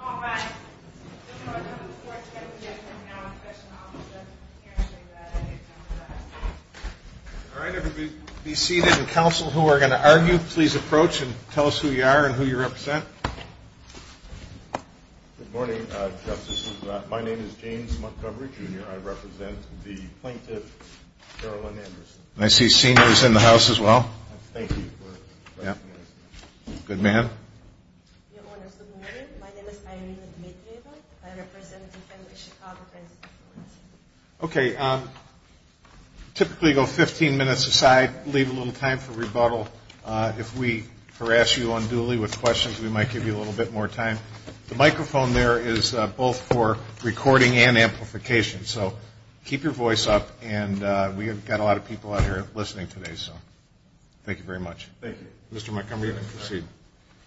All right, everybody be seated and counsel who are going to argue, please approach and tell us who you are and who you represent. Good morning, Justices. My name is James Montgomery, Jr. I represent the plaintiff, Carolyn Anderson. I see seniors in the house as well. Thank you for recognizing us. Good man. Your Honors, good morning. My name is Irene Dmitrieva. I represent the Chicago Transit Authority. Okay, typically go 15 minutes aside, leave a little time for rebuttal. If we harass you unduly with questions, we might give you a little bit more time. The microphone there is both for recording and amplification, so keep your voice up. And we have got a lot of people out here listening today, so thank you very much. Thank you. Mr. Montgomery, proceed.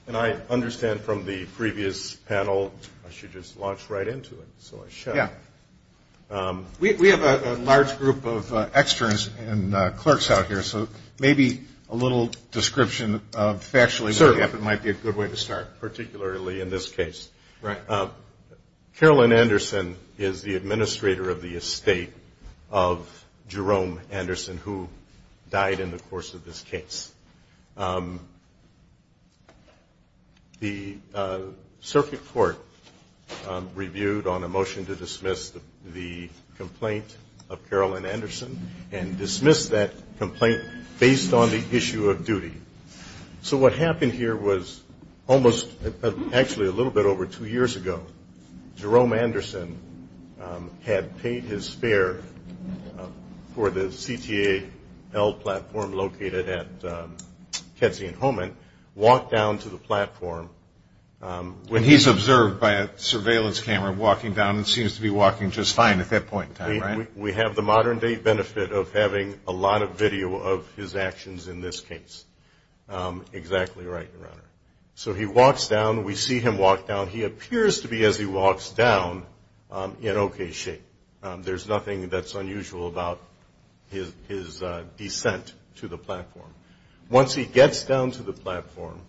And I understand from the previous panel, I should just launch right into it, so I should. Yeah. We have a large group of externs and clerks out here, so maybe a little description of factually what happened might be a good way to start. Certainly, particularly in this case. Right. Carolyn Anderson is the administrator of the estate of Jerome Anderson, who died in the course of this case. The circuit court reviewed on a motion to dismiss the complaint of Carolyn Anderson and dismissed that complaint based on the issue of duty. So what happened here was almost, actually a little bit over two years ago, Jerome Anderson had paid his fare for the CTA L platform located at Kedzie and Holman, walked down to the platform. When he's observed by a surveillance camera walking down, it seems to be walking just fine at that point in time, right? We have the modern-day benefit of having a lot of video of his actions in this case. Exactly right, Your Honor. So he walks down. We see him walk down. He appears to be, as he walks down, in okay shape. There's nothing that's unusual about his descent to the platform. Once he gets down to the platform,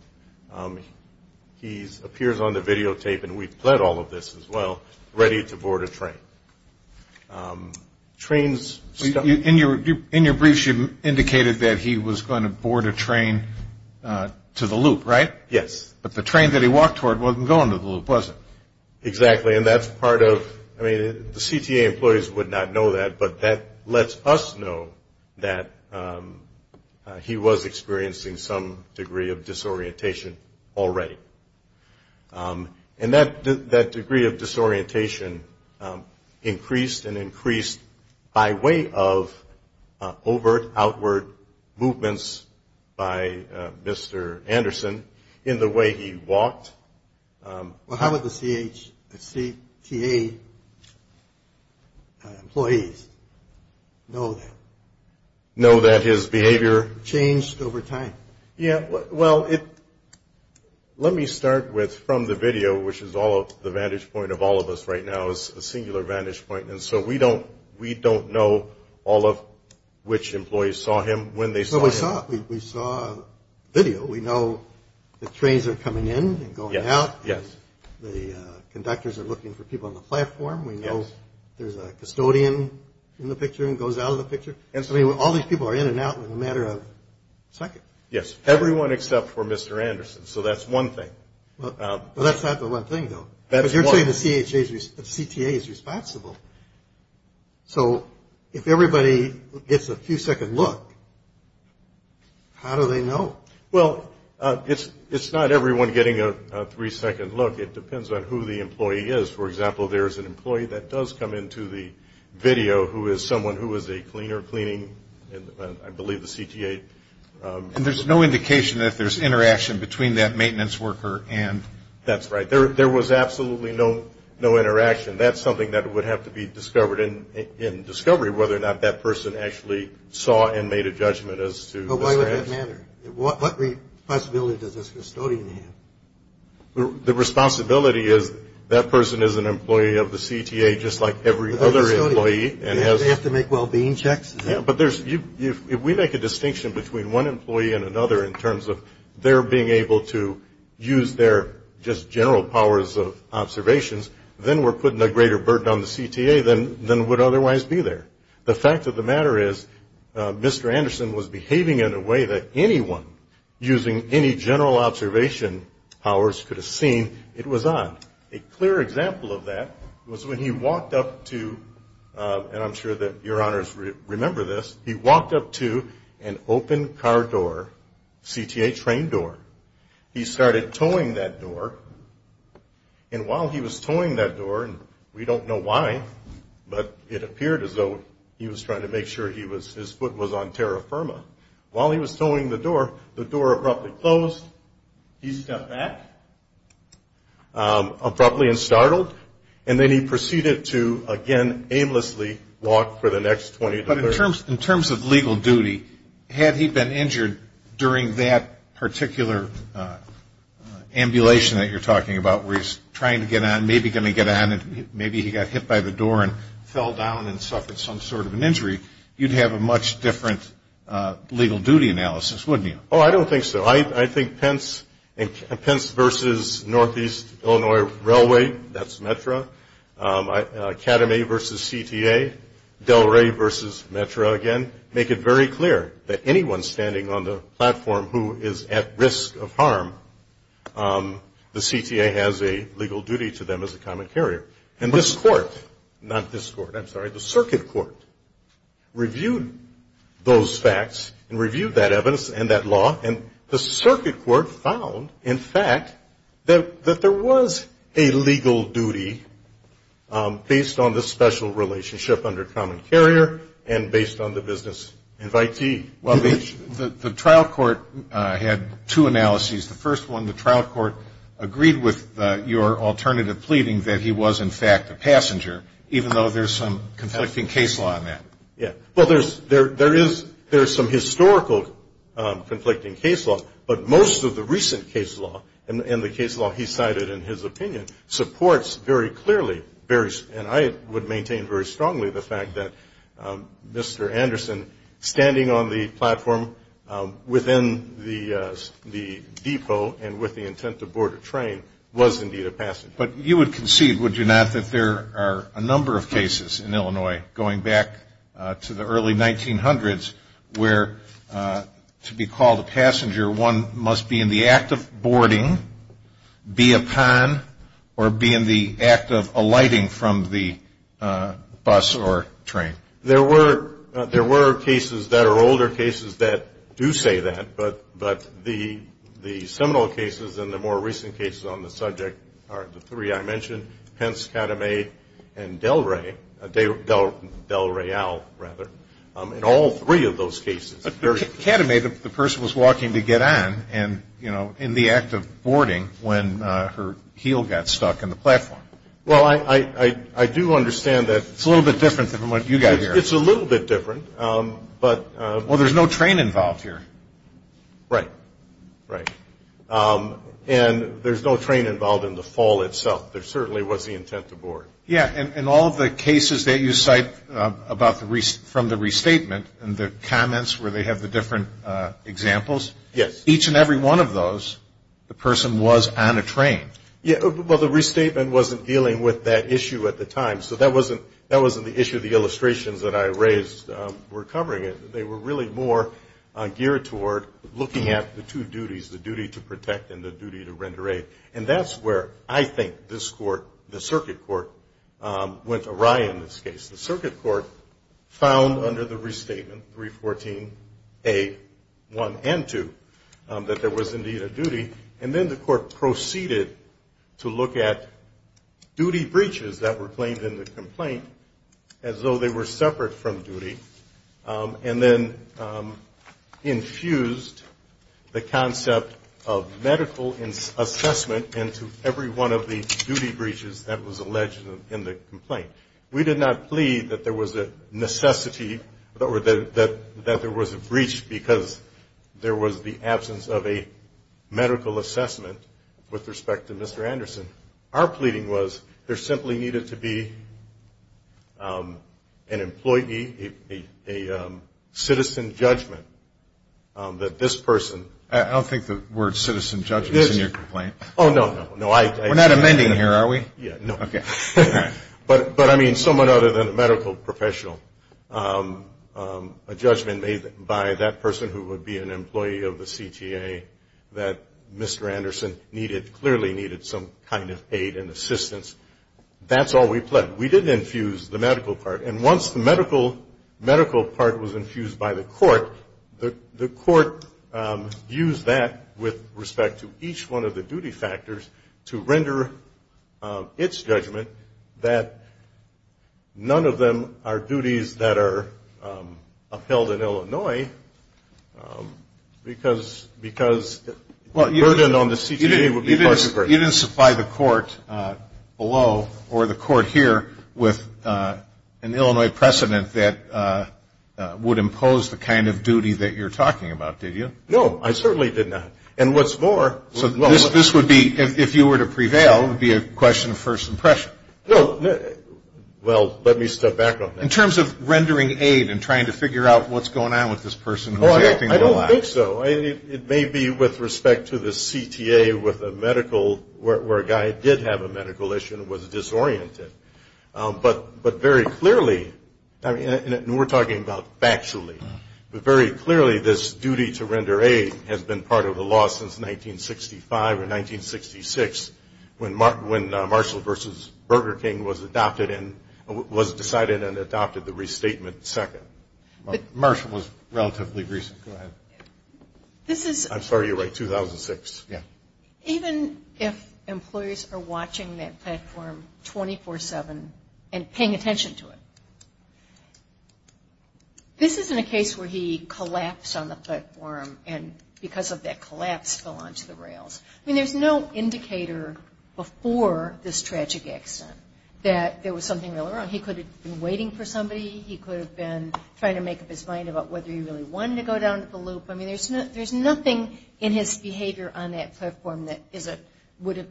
he appears on the videotape, and we've pled all of this as well, ready to board a train. In your briefs, you indicated that he was going to board a train to the loop, right? Yes. But the train that he walked toward wasn't going to the loop, was it? Exactly, and that's part of the CTA employees would not know that, but that lets us know that he was experiencing some degree of disorientation already. And that degree of disorientation increased and increased by way of overt, outward movements by Mr. Anderson in the way he walked. Well, how would the CTA employees know that? Know that his behavior? Changed over time. Yeah, well, let me start with from the video, which is the vantage point of all of us right now is a singular vantage point, and so we don't know all of which employees saw him, when they saw him. We saw a video. We know the trains are coming in and going out. Yes. The conductors are looking for people on the platform. Yes. We know there's a custodian in the picture and goes out of the picture, and so all these people are in and out in a matter of seconds. Yes, everyone except for Mr. Anderson, so that's one thing. Well, that's not the one thing, though. That's one thing. Because you're saying the CTA is responsible. So if everybody gets a few-second look, how do they know? Well, it's not everyone getting a three-second look. It depends on who the employee is. For example, there's an employee that does come into the video, who is someone who is a cleaner cleaning, I believe, the CTA. And there's no indication that there's interaction between that maintenance worker and? That's right. There was absolutely no interaction. That's something that would have to be discovered in discovery, whether or not that person actually saw and made a judgment as to the status. Well, why would that matter? What responsibility does this custodian have? The responsibility is that person is an employee of the CTA just like every other employee. They have to make well-being checks? Yes. But if we make a distinction between one employee and another in terms of their being able to use their just general powers of observations, then we're putting a greater burden on the CTA than would otherwise be there. The fact of the matter is Mr. Anderson was behaving in a way that anyone using any general observation powers could have seen it was on. A clear example of that was when he walked up to, and I'm sure that your honors remember this, he walked up to an open car door, CTA train door. He started towing that door, and while he was towing that door, and we don't know why, but it appeared as though he was trying to make sure his foot was on terra firma. While he was towing the door, the door abruptly closed, he stepped back, abruptly and startled, and then he proceeded to again aimlessly walk for the next 20 to 30 minutes. In terms of legal duty, had he been injured during that particular ambulation that you're talking about where he's trying to get on, maybe going to get on, and maybe he got hit by the door and fell down and suffered some sort of an injury, you'd have a much different legal duty analysis, wouldn't you? Oh, I don't think so. I think Pence versus Northeast Illinois Railway, that's METRA. Academy versus CTA. Delray versus METRA again. Make it very clear that anyone standing on the platform who is at risk of harm, the CTA has a legal duty to them as a common carrier. And this court, not this court, I'm sorry, the circuit court reviewed those facts and reviewed that evidence and that law, and the circuit court found, in fact, that there was a legal duty based on the special relationship under common carrier and based on the business invitee. The trial court had two analyses. The first one, the trial court agreed with your alternative pleading that he was, in fact, a passenger, even though there's some conflicting case law on that. Yeah. Well, there is some historical conflicting case law, but most of the recent case law and the case law he cited in his opinion supports very clearly and I would maintain very strongly the fact that Mr. Anderson standing on the platform within the depot and with the intent to board a train was indeed a passenger. But you would concede, would you not, that there are a number of cases in Illinois going back to the early 1900s where to be called a passenger one must be in the act of boarding, be upon, or be in the act of alighting from the bus or train? There were cases that are older cases that do say that, but the seminal cases and the more recent cases on the subject are the three I mentioned, Pence, Kadame, and Del Ray, Del Rayal, rather. In all three of those cases. Kadame, the person was walking to get on and, you know, in the act of boarding when her heel got stuck in the platform. Well, I do understand that. It's a little bit different than what you got here. It's a little bit different, but. Well, there's no train involved here. Right. Right. And there's no train involved in the fall itself. There certainly was the intent to board. Yeah, and all of the cases that you cite from the restatement and the comments where they have the different examples. Yes. Each and every one of those, the person was on a train. Yeah, well, the restatement wasn't dealing with that issue at the time, so that wasn't the issue of the illustrations that I raised were covering it. They were really more geared toward looking at the two duties, the duty to protect and the duty to render aid, and that's where I think this court, the circuit court, went awry in this case. The circuit court found under the restatement, 314A1 and 2, that there was indeed a duty, and then the court proceeded to look at duty breaches that were claimed in the complaint as though they were separate from duty and then infused the concept of medical assessment into every one of the duty breaches that was alleged in the complaint. We did not plead that there was a necessity or that there was a breach because there was the absence of a medical assessment with respect to Mr. Anderson. Our pleading was there simply needed to be an employee, a citizen judgment that this person. I don't think the word citizen judgment is in your complaint. Oh, no, no. We're not amending here, are we? No. Okay. But, I mean, someone other than a medical professional, a judgment made by that person who would be an employee of the CTA that Mr. Anderson clearly needed some kind of aid and assistance. That's all we pled. We didn't infuse the medical part. And once the medical part was infused by the court, the court used that with respect to each one of the duty factors to render its judgment that none of them are duties that are upheld in Illinois because the burden on the CTA would be far too great. You didn't supply the court below or the court here with an Illinois precedent that would impose the kind of duty that you're talking about, did you? No, I certainly did not. And what's more. So this would be, if you were to prevail, it would be a question of first impression. No. Well, let me step back on that. In terms of rendering aid and trying to figure out what's going on with this person. I don't think so. It may be with respect to the CTA with a medical, where a guy did have a medical issue and was disoriented. But very clearly, and we're talking about factually, but very clearly this duty to render aid has been part of the law since 1965 or 1966 when Marshall v. Burger King was decided and adopted the restatement second. Marshall was relatively recent. Go ahead. I'm sorry. You're right. 2006. Yeah. Even if employers are watching that platform 24-7 and paying attention to it, this isn't a case where he collapsed on the platform and because of that collapse fell onto the rails. I mean, there's no indicator before this tragic accident that there was something really wrong. He could have been waiting for somebody. He could have been trying to make up his mind about whether he really wanted to go down the loop. I mean, there's nothing in his behavior on that platform that would have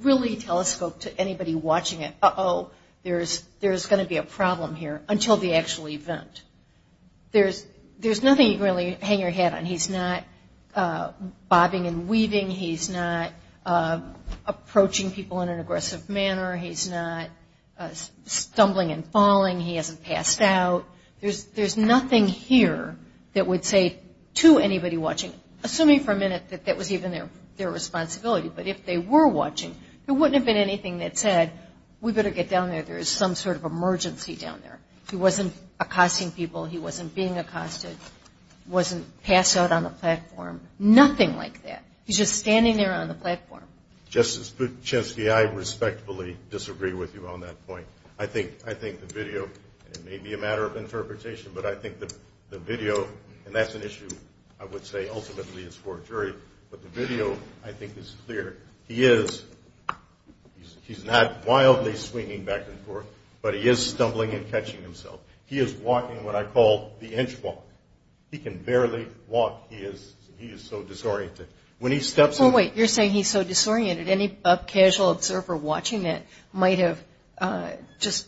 really telescoped to anybody watching it, uh-oh, there's going to be a problem here, until the actual event. There's nothing you can really hang your hat on. He's not bobbing and weaving. He's not approaching people in an aggressive manner. He's not stumbling and falling. He hasn't passed out. There's nothing here that would say to anybody watching, assuming for a minute that that was even their responsibility, but if they were watching, there wouldn't have been anything that said, we better get down there, there is some sort of emergency down there. He wasn't accosting people. He wasn't being accosted. He wasn't passed out on the platform. Nothing like that. He's just standing there on the platform. Justice Buchinsky, I respectfully disagree with you on that point. I think the video, and it may be a matter of interpretation, but I think the video, and that's an issue I would say ultimately is for a jury, but the video I think is clear. He is, he's not wildly swinging back and forth, but he is stumbling and catching himself. He is walking what I call the inch walk. He can barely walk. He is so disoriented. When he steps in. Well, wait, you're saying he's so disoriented. Any casual observer watching that might have just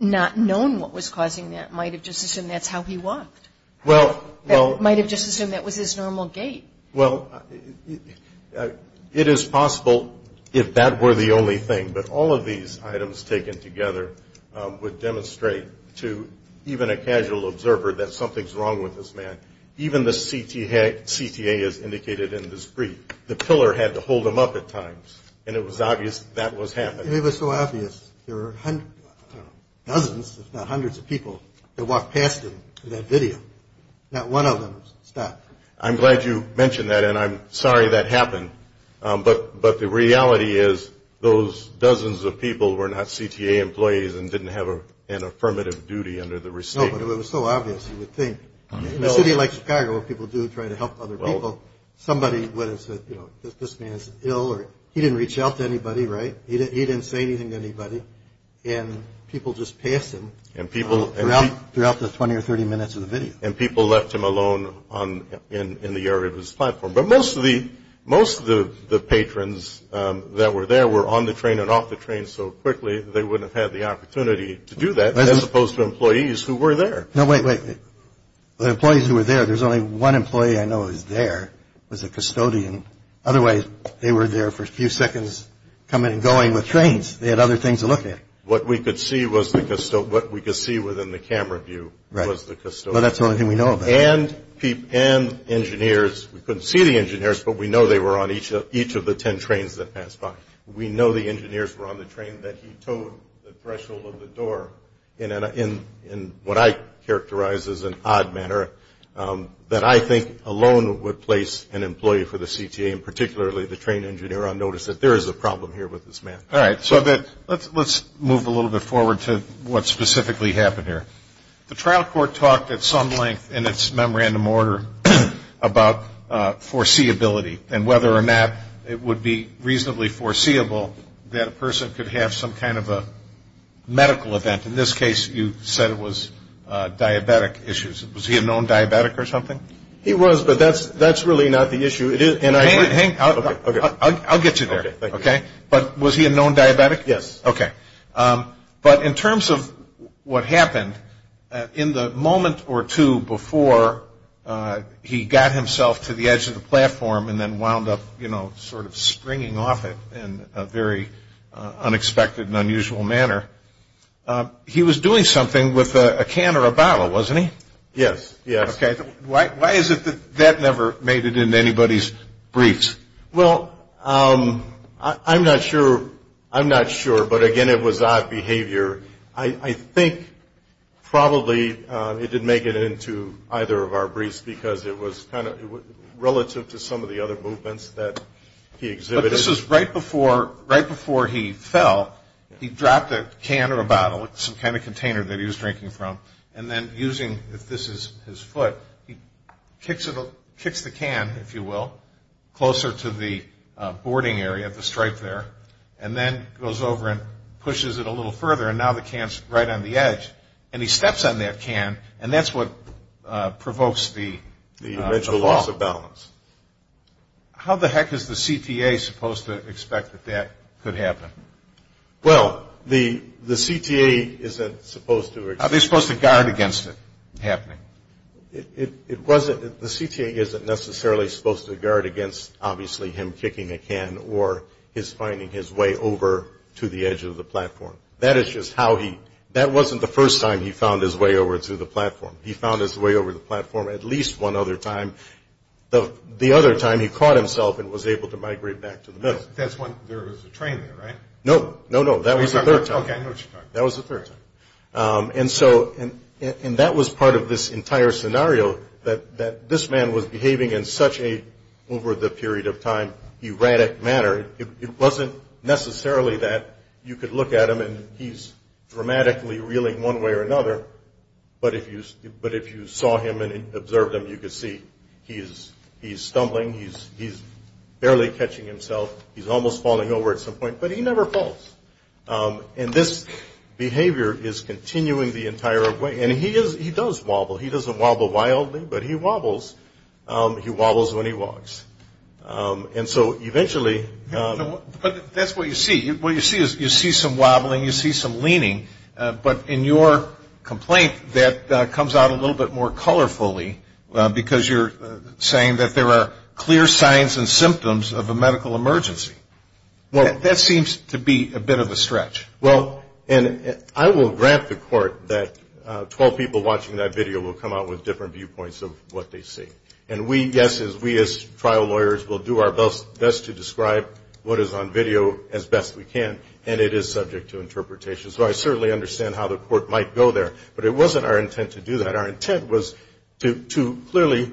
not known what was causing that, might have just assumed that's how he walked. Well, well. Might have just assumed that was his normal gait. Well, it is possible if that were the only thing, but all of these items taken together would demonstrate to even a casual observer that something's wrong with this man. Even the CTA is indicated in this brief. The pillar had to hold him up at times, and it was obvious that was happening. It was so obvious. There were dozens if not hundreds of people that walked past him in that video. Not one of them stopped. I'm glad you mentioned that, and I'm sorry that happened, but the reality is those dozens of people were not CTA employees and didn't have an affirmative duty under the restatement. No, but it was so obvious you would think. In a city like Chicago, people do try to help other people. Somebody would have said, you know, this man's ill. He didn't reach out to anybody, right? He didn't say anything to anybody, and people just passed him. And people. Throughout the 20 or 30 minutes of the video. And people left him alone in the area of his platform. But most of the patrons that were there were on the train and off the train so quickly they wouldn't have had the opportunity to do that, as opposed to employees who were there. No, wait, wait. The employees who were there, there's only one employee I know who was there, was a custodian. Otherwise, they were there for a few seconds coming and going with trains. They had other things to look at. What we could see within the camera view was the custodian. Well, that's the only thing we know about. And engineers. We couldn't see the engineers, but we know they were on each of the ten trains that passed by. We know the engineers were on the train that he towed the threshold of the door. In what I characterize as an odd manner, that I think alone would place an employee for the CTA, and particularly the train engineer, on notice that there is a problem here with this man. All right. So let's move a little bit forward to what specifically happened here. The trial court talked at some length in its memorandum order about foreseeability and whether or not it would be reasonably foreseeable that a person could have some kind of a medical event. In this case, you said it was diabetic issues. Was he a known diabetic or something? He was, but that's really not the issue. I'll get you there. Okay. But was he a known diabetic? Yes. Okay. But in terms of what happened, in the moment or two before he got himself to the edge of the platform and then wound up sort of springing off it in a very unexpected and unusual manner, he was doing something with a can or a bottle, wasn't he? Yes. Yes. Okay. Why is it that that never made it into anybody's briefs? Well, I'm not sure, but again, it was odd behavior. I think probably it didn't make it into either of our briefs because it was kind of relative to some of the other movements that he exhibited. But this was right before he fell, he dropped a can or a bottle, some kind of container that he was drinking from, and then using, if this is his foot, he kicks the can, if you will, closer to the boarding area, the stripe there, and then goes over and pushes it a little further, and now the can's right on the edge. And he steps on that can, and that's what provokes the fall. The eventual loss of balance. How the heck is the CTA supposed to expect that that could happen? Well, the CTA isn't supposed to expect that. Are they supposed to guard against it happening? The CTA isn't necessarily supposed to guard against, obviously, him kicking a can or his finding his way over to the edge of the platform. That is just how he – that wasn't the first time he found his way over to the platform. He found his way over to the platform at least one other time. The other time he caught himself and was able to migrate back to the middle. There was a train there, right? No, no, no. That was the third time. Okay, I know what you're talking about. That was the third time. And that was part of this entire scenario, that this man was behaving in such an over-the-period-of-time erratic manner. It wasn't necessarily that you could look at him and he's dramatically reeling one way or another. But if you saw him and observed him, you could see he's stumbling. He's barely catching himself. He's almost falling over at some point, but he never falls. And this behavior is continuing the entire way. And he does wobble. He doesn't wobble wildly, but he wobbles. He wobbles when he walks. And so eventually. But that's what you see. What you see is you see some wobbling. You see some leaning. But in your complaint, that comes out a little bit more colorfully because you're saying that there are clear signs and symptoms of a medical emergency. That seems to be a bit of a stretch. Well, and I will grant the court that 12 people watching that video will come out with different viewpoints of what they see. And we, yes, we as trial lawyers will do our best to describe what is on video as best we can. And it is subject to interpretation. So I certainly understand how the court might go there. But it wasn't our intent to do that. Our intent was to clearly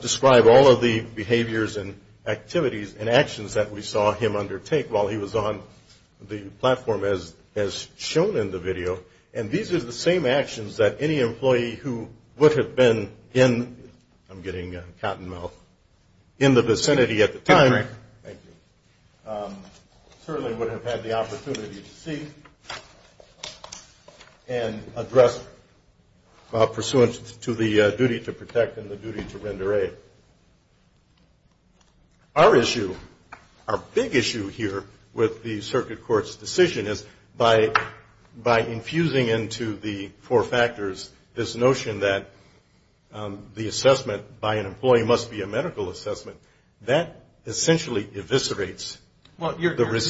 describe all of the behaviors and activities and actions that we saw him undertake while he was on the platform as shown in the video. And these are the same actions that any employee who would have been in, I'm getting cottonmouth, in the vicinity at the time. Thank you. Certainly would have had the opportunity to see and address pursuant to the duty to protect and the duty to render aid. Our issue, our big issue here with the circuit court's decision is by infusing into the four factors this notion that the assessment by an employee must be a medical assessment, that essentially eviscerates the restatement.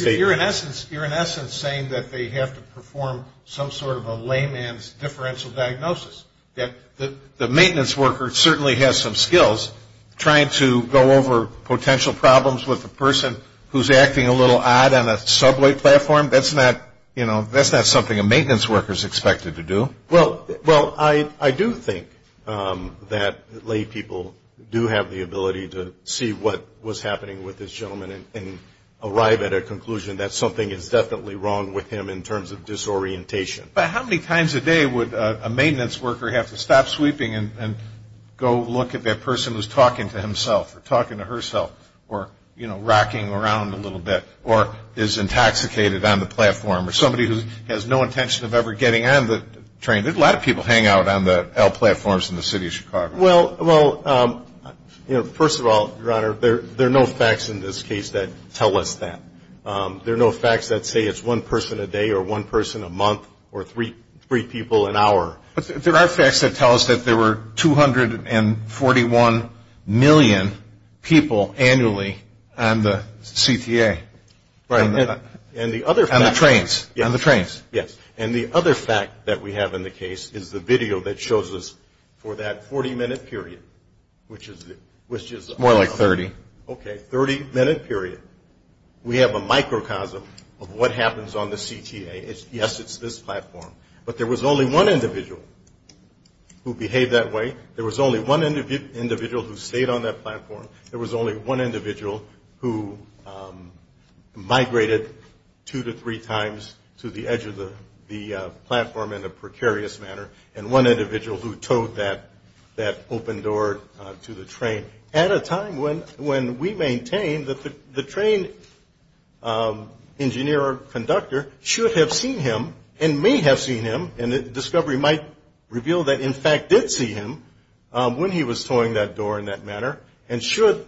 Well, you're in essence saying that they have to perform some sort of a layman's differential diagnosis. The maintenance worker certainly has some skills trying to go over potential problems with a person who's acting a little odd on a subway platform. That's not, you know, that's not something a maintenance worker is expected to do. Well, I do think that laypeople do have the ability to see what was happening with this gentleman and arrive at a conclusion that something is definitely wrong with him in terms of disorientation. But how many times a day would a maintenance worker have to stop sweeping and go look at that person who's talking to himself or talking to herself or, you know, rocking around a little bit or is intoxicated on the platform or somebody who has no intention of ever getting on the train? A lot of people hang out on the L platforms in the city of Chicago. Well, you know, first of all, Your Honor, there are no facts in this case that tell us that. There are no facts that say it's one person a day or one person a month or three people an hour. But there are facts that tell us that there were 241 million people annually on the CTA. Right. And the other fact. On the trains. Yes. On the trains. Yes. And the other fact that we have in the case is the video that shows us for that 40-minute period, which is... It's more like 30. Okay, 30-minute period, we have a microcosm of what happens on the CTA. Yes, it's this platform, but there was only one individual who behaved that way. There was only one individual who stayed on that platform. There was only one individual who migrated two to three times to the edge of the platform in a precarious manner and one individual who towed that open door to the train at a time when we maintain that the train engineer or conductor should have seen him and may have seen him. And the discovery might reveal that, in fact, did see him when he was towing that door in that manner and should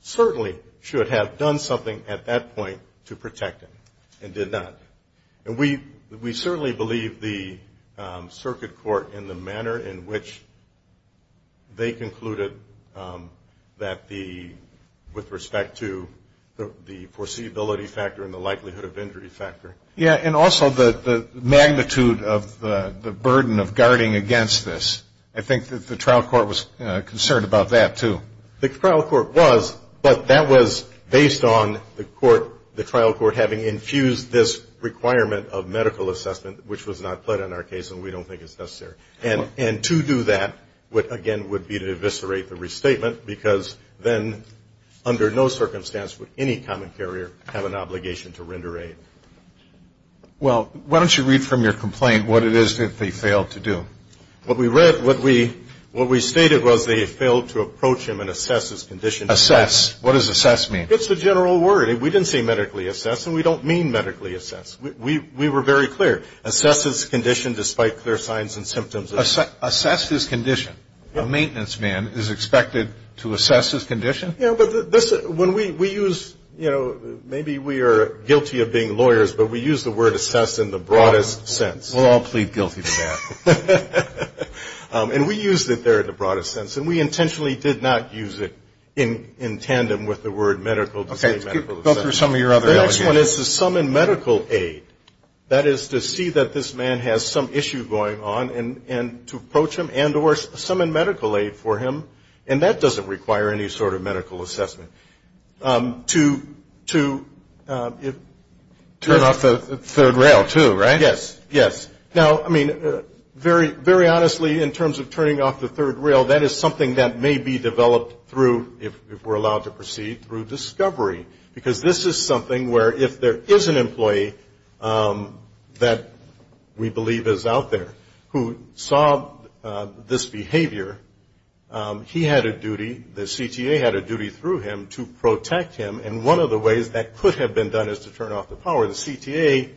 certainly should have done something at that point to protect him and did not. And we certainly believe the circuit court in the manner in which they concluded that the, with respect to the foreseeability factor and the likelihood of injury factor. Yes, and also the magnitude of the burden of guarding against this. I think that the trial court was concerned about that, too. The trial court was, but that was based on the court, the trial court having infused this requirement of medical assessment, which was not put in our case and we don't think it's necessary. And to do that, again, would be to eviscerate the restatement because then under no circumstance would any common carrier have an obligation to render aid. Well, why don't you read from your complaint what it is that they failed to do? What we read, what we stated was they failed to approach him and assess his condition. Assess. What does assess mean? It's the general word. We didn't say medically assess and we don't mean medically assess. We were very clear. Assess his condition despite clear signs and symptoms. Assess his condition. A maintenance man is expected to assess his condition? Yes, but when we use, you know, maybe we are guilty of being lawyers, but we use the word assess in the broadest sense. We'll all plead guilty to that. And we used it there in the broadest sense and we intentionally did not use it in tandem with the word medical. Okay. Go through some of your other allegations. The next one is to summon medical aid. That is to see that this man has some issue going on and to approach him and or summon medical aid for him and that doesn't require any sort of medical assessment. To turn off the third rail too, right? Yes, yes. Now, I mean, very honestly in terms of turning off the third rail, that is something that may be developed through, if we're allowed to proceed, through discovery. Because this is something where if there is an employee that we believe is out there who saw this behavior, he had a duty, the CTA had a duty through him to protect him and one of the ways that could have been done is to turn off the power. The CTA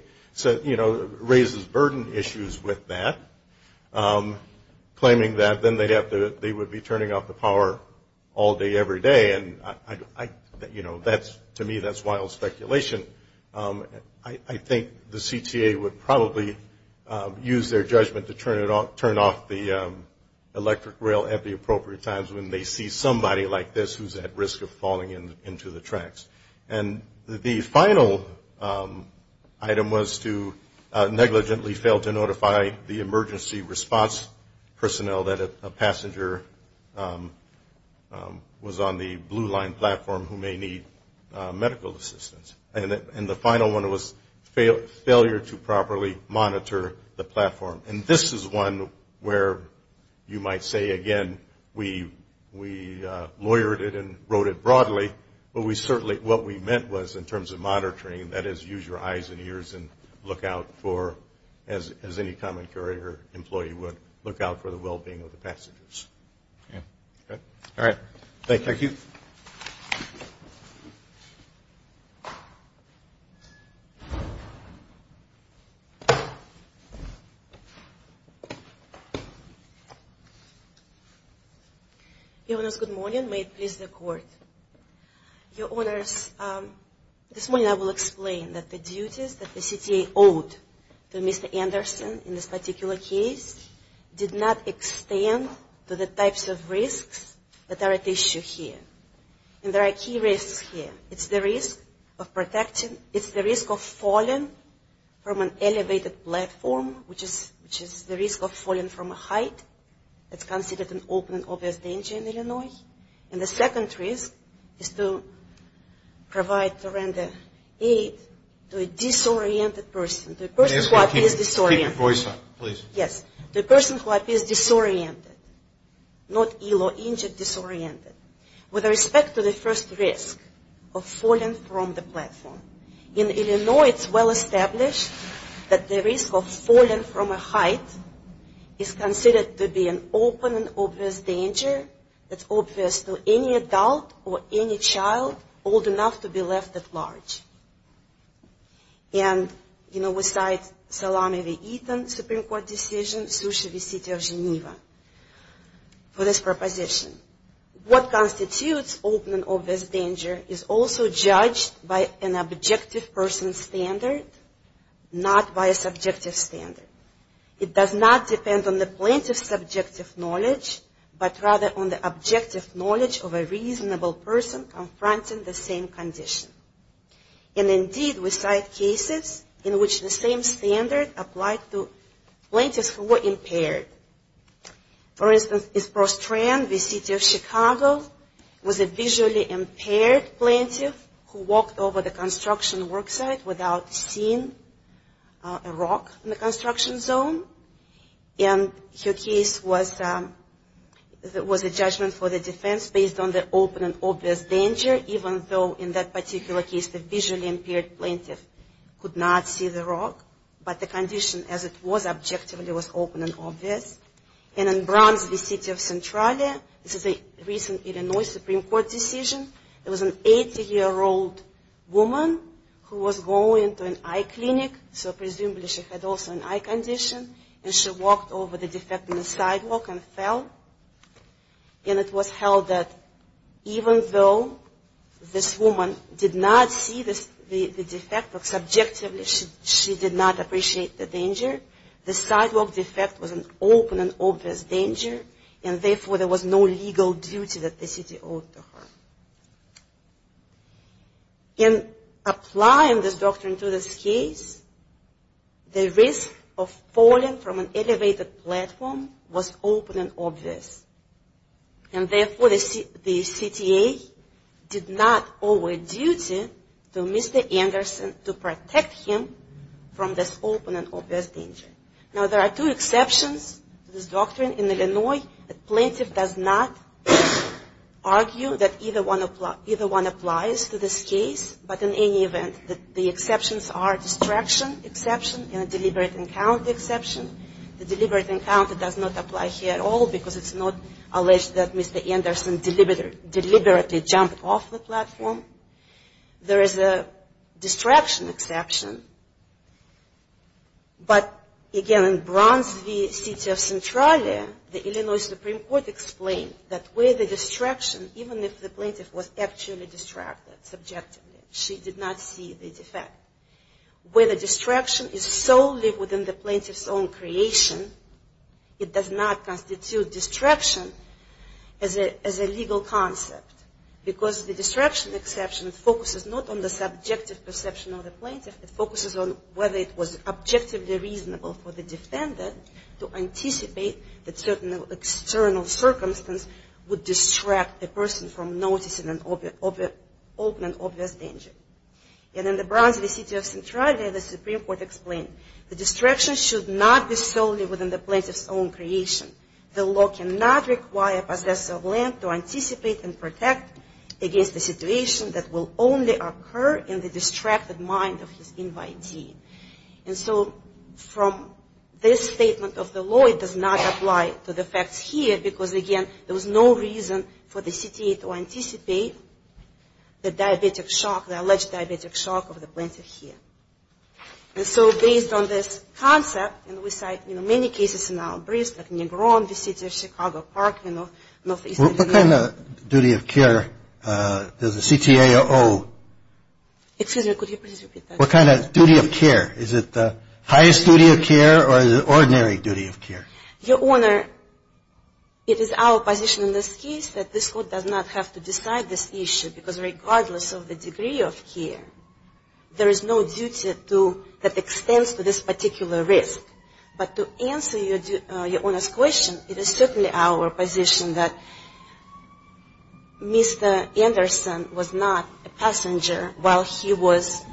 raises burden issues with that, claiming that then they would be turning off the power all day, every day. And to me, that's wild speculation. I think the CTA would probably use their judgment to turn off the electric rail at the appropriate times when they see somebody like this who's at risk of falling into the tracks. And the final item was to negligently fail to notify the emergency response personnel that a passenger was on the blue line platform who may need medical assistance. And the final one was failure to properly monitor the platform. And this is one where you might say, again, we lawyered it and wrote it broadly, but we certainly, what we meant was in terms of monitoring, that is, use your eyes and ears and look out for, as any common carrier employee would, look out for the well-being of the passengers. All right. Thank you. Thank you. Your Honors, good morning. May it please the Court. Your Honors, this morning I will explain that the duties that the CTA owed to Mr. Anderson in this particular case did not extend to the types of risks that are at issue here. And there are key risks here. It's the risk of protecting, it's the risk of falling from an elevated platform, which is the risk of falling from a height that's considered an open and obvious danger in Illinois. And the second risk is to provide horrendous aid to a disoriented person, to a person who is disoriented. Keep your voice up, please. Yes, the person who appears disoriented, not ill or injured, disoriented, with respect to the first risk of falling from the platform. In Illinois, it's well established that the risk of falling from a height is considered to be an open and obvious danger that's obvious to any adult or any child old enough to be left at large. And, you know, we cite Salami v. Eaton, Supreme Court decision, Sushi v. City of Geneva for this proposition. What constitutes open and obvious danger is also judged by an objective person's standard, not by a subjective standard. It does not depend on the plaintiff's subjective knowledge, but rather on the objective knowledge of a reasonable person confronting the same condition. And indeed, we cite cases in which the same standard applied to plaintiffs who were impaired. For instance, is Prostrand v. City of Chicago, was a visually impaired plaintiff who walked over the construction worksite without seeing a rock in the construction zone. And her case was a judgment for the defense based on the open and obvious danger, even though in that particular case the visually impaired plaintiff could not see the rock. But the condition as it was objectively was open and obvious. And in Browns v. City of Centralia, this is a recent Illinois Supreme Court decision, it was an 80-year-old woman who was going to an eye clinic, so presumably she had also an eye condition. And she walked over the defect in the sidewalk and fell. And it was held that even though this woman did not see the defect, subjectively she did not appreciate the danger, the sidewalk defect was an open and obvious danger, and therefore there was no legal duty that the city owed to her. In applying this doctrine to this case, the risk of falling from an elevated platform was open and obvious. And therefore the CTA did not owe a duty to Mr. Anderson to protect him from this open and obvious danger. Now there are two exceptions to this doctrine in Illinois. The plaintiff does not argue that either one applies to this case, but in any event, the exceptions are distraction exception and deliberate encounter exception. The deliberate encounter does not apply here at all because it's not alleged that Mr. Anderson deliberately jumped off the platform. There is a distraction exception, but again in Browns v. City of Centralia, the Illinois Supreme Court explained that where the distraction, even if the plaintiff was actually distracted subjectively, she did not see the defect. Where the distraction is solely within the plaintiff's own creation, it does not constitute distraction as a legal concept because the distraction exception focuses not on the subjective perception of the plaintiff, it focuses on whether it was objectively reasonable for the defendant to anticipate that certain external circumstances would distract the person from noticing an open and obvious danger. And in the Browns v. City of Centralia, the Supreme Court explained the distraction should not be solely within the plaintiff's own creation. The law cannot require a possessor of land to anticipate and protect against a situation that will only occur in the distracted mind of his invitee. And so from this statement of the law, it does not apply to the facts here because, again, there was no reason for the CTA to anticipate the diabetic shock, the alleged diabetic shock of the plaintiff here. And so based on this concept, and we cite many cases in our briefs, like Negron v. City of Chicago Park in northeastern New York. What kind of duty of care does the CTA owe? Excuse me, could you please repeat that? What kind of duty of care? Is it the highest duty of care or is it ordinary duty of care? Your Honor, it is our position in this case that this Court does not have to decide this issue because regardless of the degree of care, there is no duty that extends to this particular risk. But to answer your Honor's question, it is certainly our position that Mr. Anderson was not a passenger while he was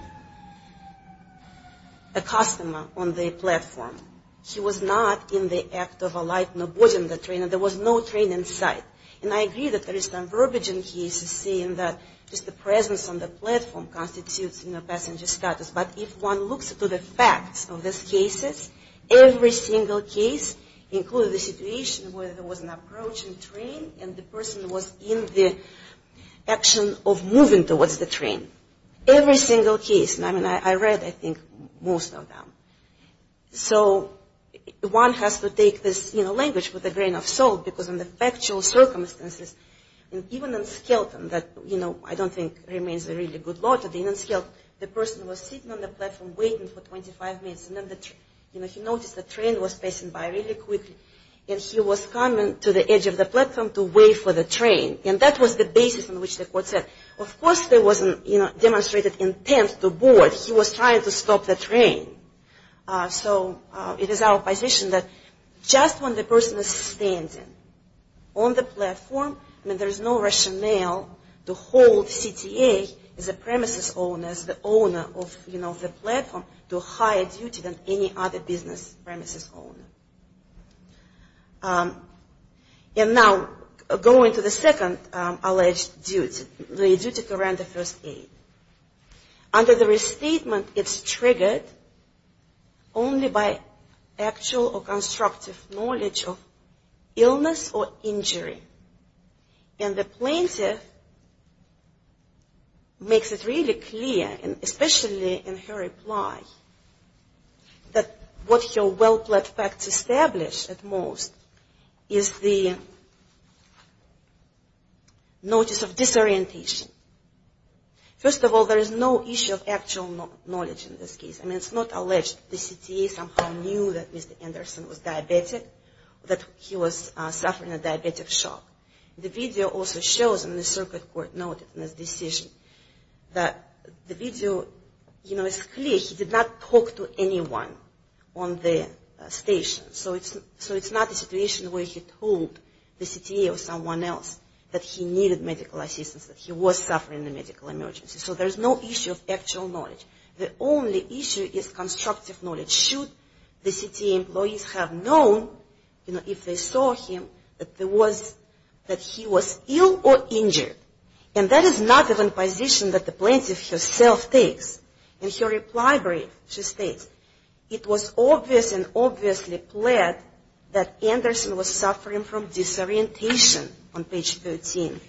a customer on the platform. He was not in the act of alighting or boarding the train. There was no train in sight. And I agree that there is some verbiage in cases saying that just the presence on the platform constitutes passenger status. But if one looks at the facts of these cases, every single case included a situation where there was an approaching train and the person was in the action of moving towards the train. Every single case. I mean, I read, I think, most of them. So one has to take this language with a grain of salt because in the factual circumstances, even in Skelton that, you know, I don't think remains a really good law to be in Skelton, the person was sitting on the platform waiting for 25 minutes. And then he noticed the train was passing by really quickly. And he was coming to the edge of the platform to wait for the train. And that was the basis on which the Court said. Of course, there was a demonstrated intent to board. He was trying to stop the train. So it is our position that just when the person is standing on the platform, I mean, there is no rationale to hold CTA as a premises owner, as the owner of, you know, the platform to a higher duty than any other business premises owner. And now going to the second alleged duty, the duty to grant the first aid. Under the restatement, it's triggered only by actual or constructive knowledge of illness or injury. And the plaintiff makes it really clear, and especially in her reply, that what her well-planned facts establish at most is the notice of disorientation. First of all, there is no issue of actual knowledge in this case. I mean, it's not alleged. The CTA somehow knew that Mr. Anderson was diabetic, that he was suffering a diabetic shock. The video also shows, and the circuit court noted in this decision, that the video, you know, is clear. He did not talk to anyone on the station. So it's not a situation where he told the CTA or someone else that he needed medical assistance, that he was suffering a medical emergency. So there's no issue of actual knowledge. The only issue is constructive knowledge. Should the CTA employees have known, you know, if they saw him, that he was ill or injured. And that is not even a position that the plaintiff herself takes. In her reply brief, she states, it was obvious and obviously pled that Anderson was suffering from disorientation on page 13.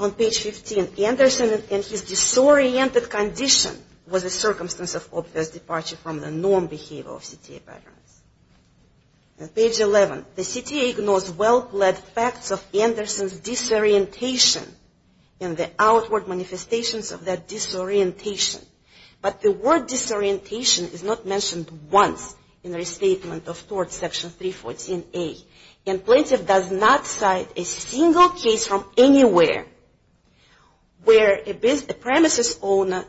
On page 15, Anderson and his disoriented condition was a circumstance of obvious departure from the norm behavior of CTA veterans. On page 11, the CTA ignores well-led facts of Anderson's disorientation and the outward manifestations of that disorientation. But the word disorientation is not mentioned once in the restatement of tort section 314A. And plaintiff does not cite a single case from anywhere where a premises owner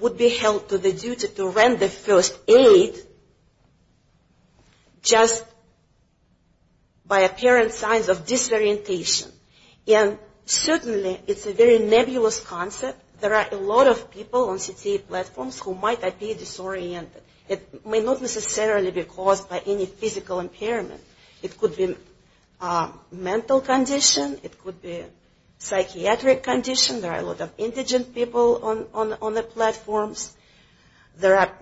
would be held to the duty to render first aid just by apparent signs of disorientation. And certainly, it's a very nebulous concept. There are a lot of people on CTA platforms who might be disoriented. It may not necessarily be caused by any physical impairment. It could be a mental condition. It could be a psychiatric condition. There are a lot of indigent people on the platforms. There are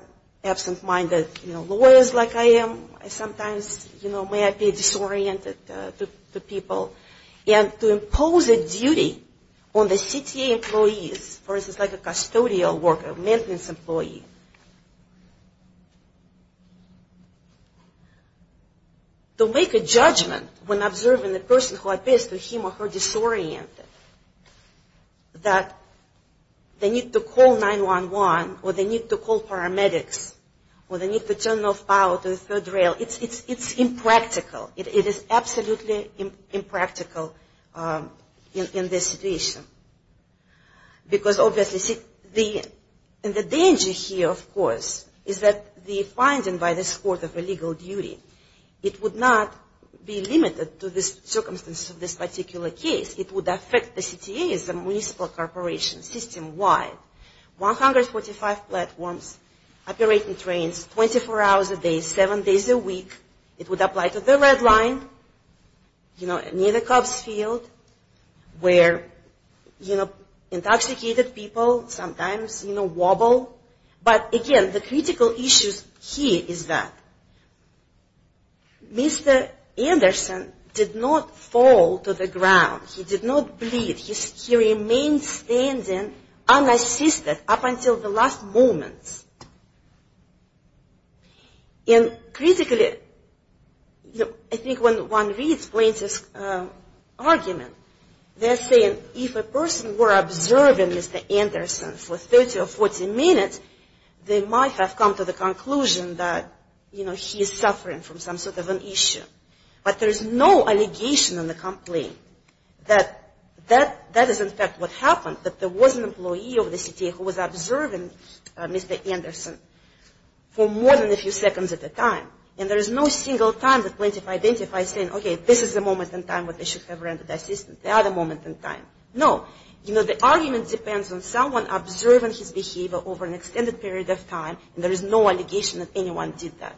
absent-minded lawyers like I am. Sometimes, you know, may I be disoriented to people. And to impose a duty on the CTA employees, for instance, like a custodial worker, maintenance employee, to make a judgment when observing the person who appears to him or her disoriented that they need to call 911 or they need to call paramedics or they need to turn off power to the third rail, it's impractical. It is absolutely impractical in this situation. Because obviously, the danger here, of course, is that the finding by this court of illegal duty, it would not be limited to the circumstances of this particular case. It would affect the CTA as a municipal corporation system-wide. 145 platforms, operating trains, 24 hours a day, seven days a week. It would apply to the red line, you know, near the Cubs field where, you know, intoxicated people sometimes, you know, wobble. But again, the critical issue here is that Mr. Anderson did not fall to the ground. He did not bleed. He remained standing unassisted up until the last moments. And critically, I think when one re-explains this argument, they're saying if a person were observing Mr. Anderson for 30 or 40 minutes, they might have come to the conclusion that, you know, he is suffering from some sort of an issue. But there is no allegation in the complaint that that is in fact what happened, that there was an employee of the CTA who was observing Mr. Anderson for more than a few seconds at a time. And there is no single time that plaintiff identifies saying, okay, this is the moment in time when they should have rendered assistance. They are the moment in time. No. You know, the argument depends on someone observing his behavior over an extended period of time, and there is no allegation that anyone did that.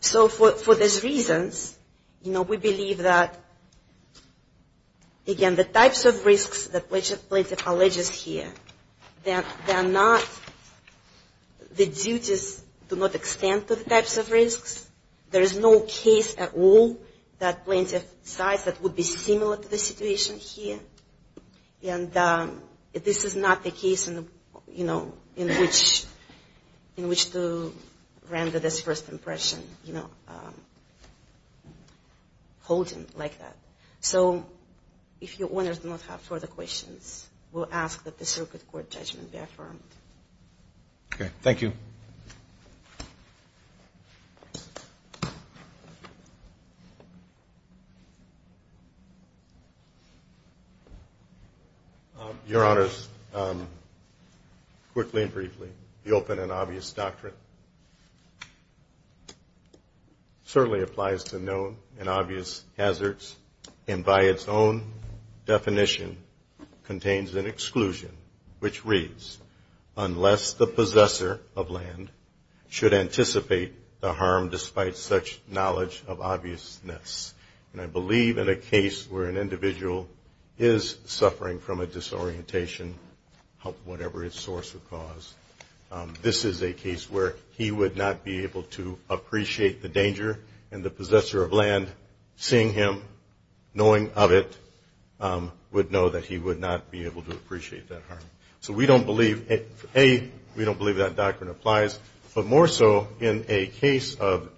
So for these reasons, you know, we believe that, again, the types of risks that plaintiff alleges here, they are not, the duties do not extend to the types of risks. There is no case at all that plaintiff decides that would be similar to the situation here. And this is not the case, you know, in which to render this first impression, you know, holding like that. So if your owners do not have further questions, we'll ask that the circuit court judgment be affirmed. Okay. Thank you. Your Honors, quickly and briefly, the open and obvious doctrine certainly applies to known and obvious hazards, and by its own definition, contains an exclusion which reads, unless the possessor of land should anticipate the harm despite such knowledge of obviousness. And I believe in a case where an individual is suffering from a disorientation of whatever its source or cause, this is a case where he would not be able to appreciate the danger, and the possessor of land, seeing him, knowing of it, would know that he would not be able to appreciate that harm. So we don't believe, A, we don't believe that doctrine applies. But more so, in a case of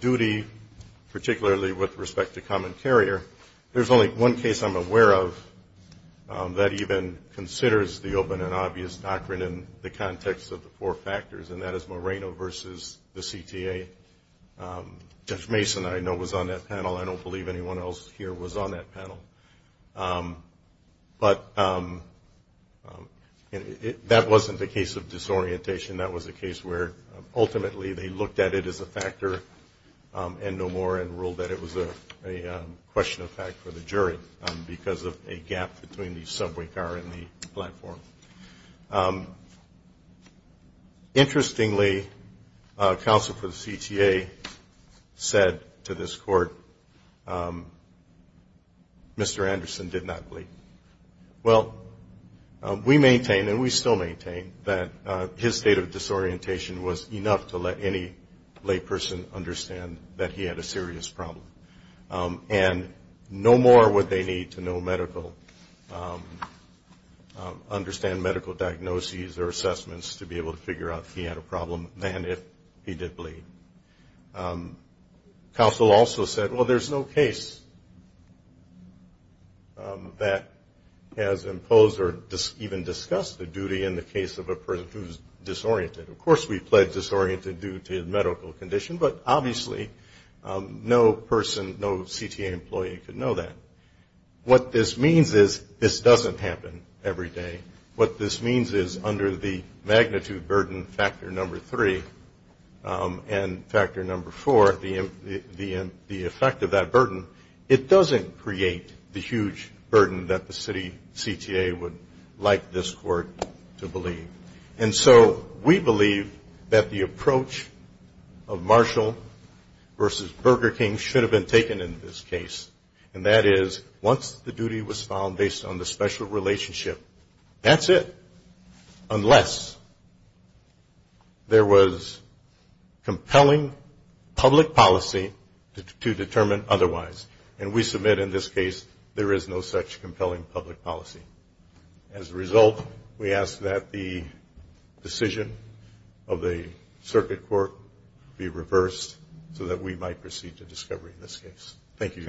duty, particularly with respect to common carrier, there's only one case I'm aware of that even considers the open and obvious doctrine in the context of the four factors, and that is Moreno versus the CTA. Jeff Mason, I know, was on that panel. I don't believe anyone else here was on that panel. But that wasn't the case of disorientation. That was a case where, ultimately, they looked at it as a factor and no more, and ruled that it was a question of fact for the jury because of a gap between the subway car and the platform. Interestingly, counsel for the CTA said to this court, Mr. Anderson did not bleed. Well, we maintain, and we still maintain, that his state of disorientation was enough to let any lay person understand that he had a serious problem. And no more would they need to know medical, understand medical diagnoses or assessments to be able to figure out if he had a problem than if he did bleed. Counsel also said, well, there's no case that has imposed or even discussed the duty in the case of a person who's disoriented. Of course, we pledge disoriented due to medical condition, but obviously, no person, no CTA employee could know that. What this means is this doesn't happen every day. What this means is under the magnitude burden factor number three and factor number four, the effect of that burden, it doesn't create the huge burden that the city CTA would like this court to believe. And so we believe that the approach of Marshall versus Burger King should have been taken in this case, and that is once the duty was found based on the special relationship, that's it, unless there was compelling public policy to determine otherwise. And we submit in this case there is no such compelling public policy. As a result, we ask that the decision of the circuit court be reversed so that we might proceed to discovery in this case. Thank you.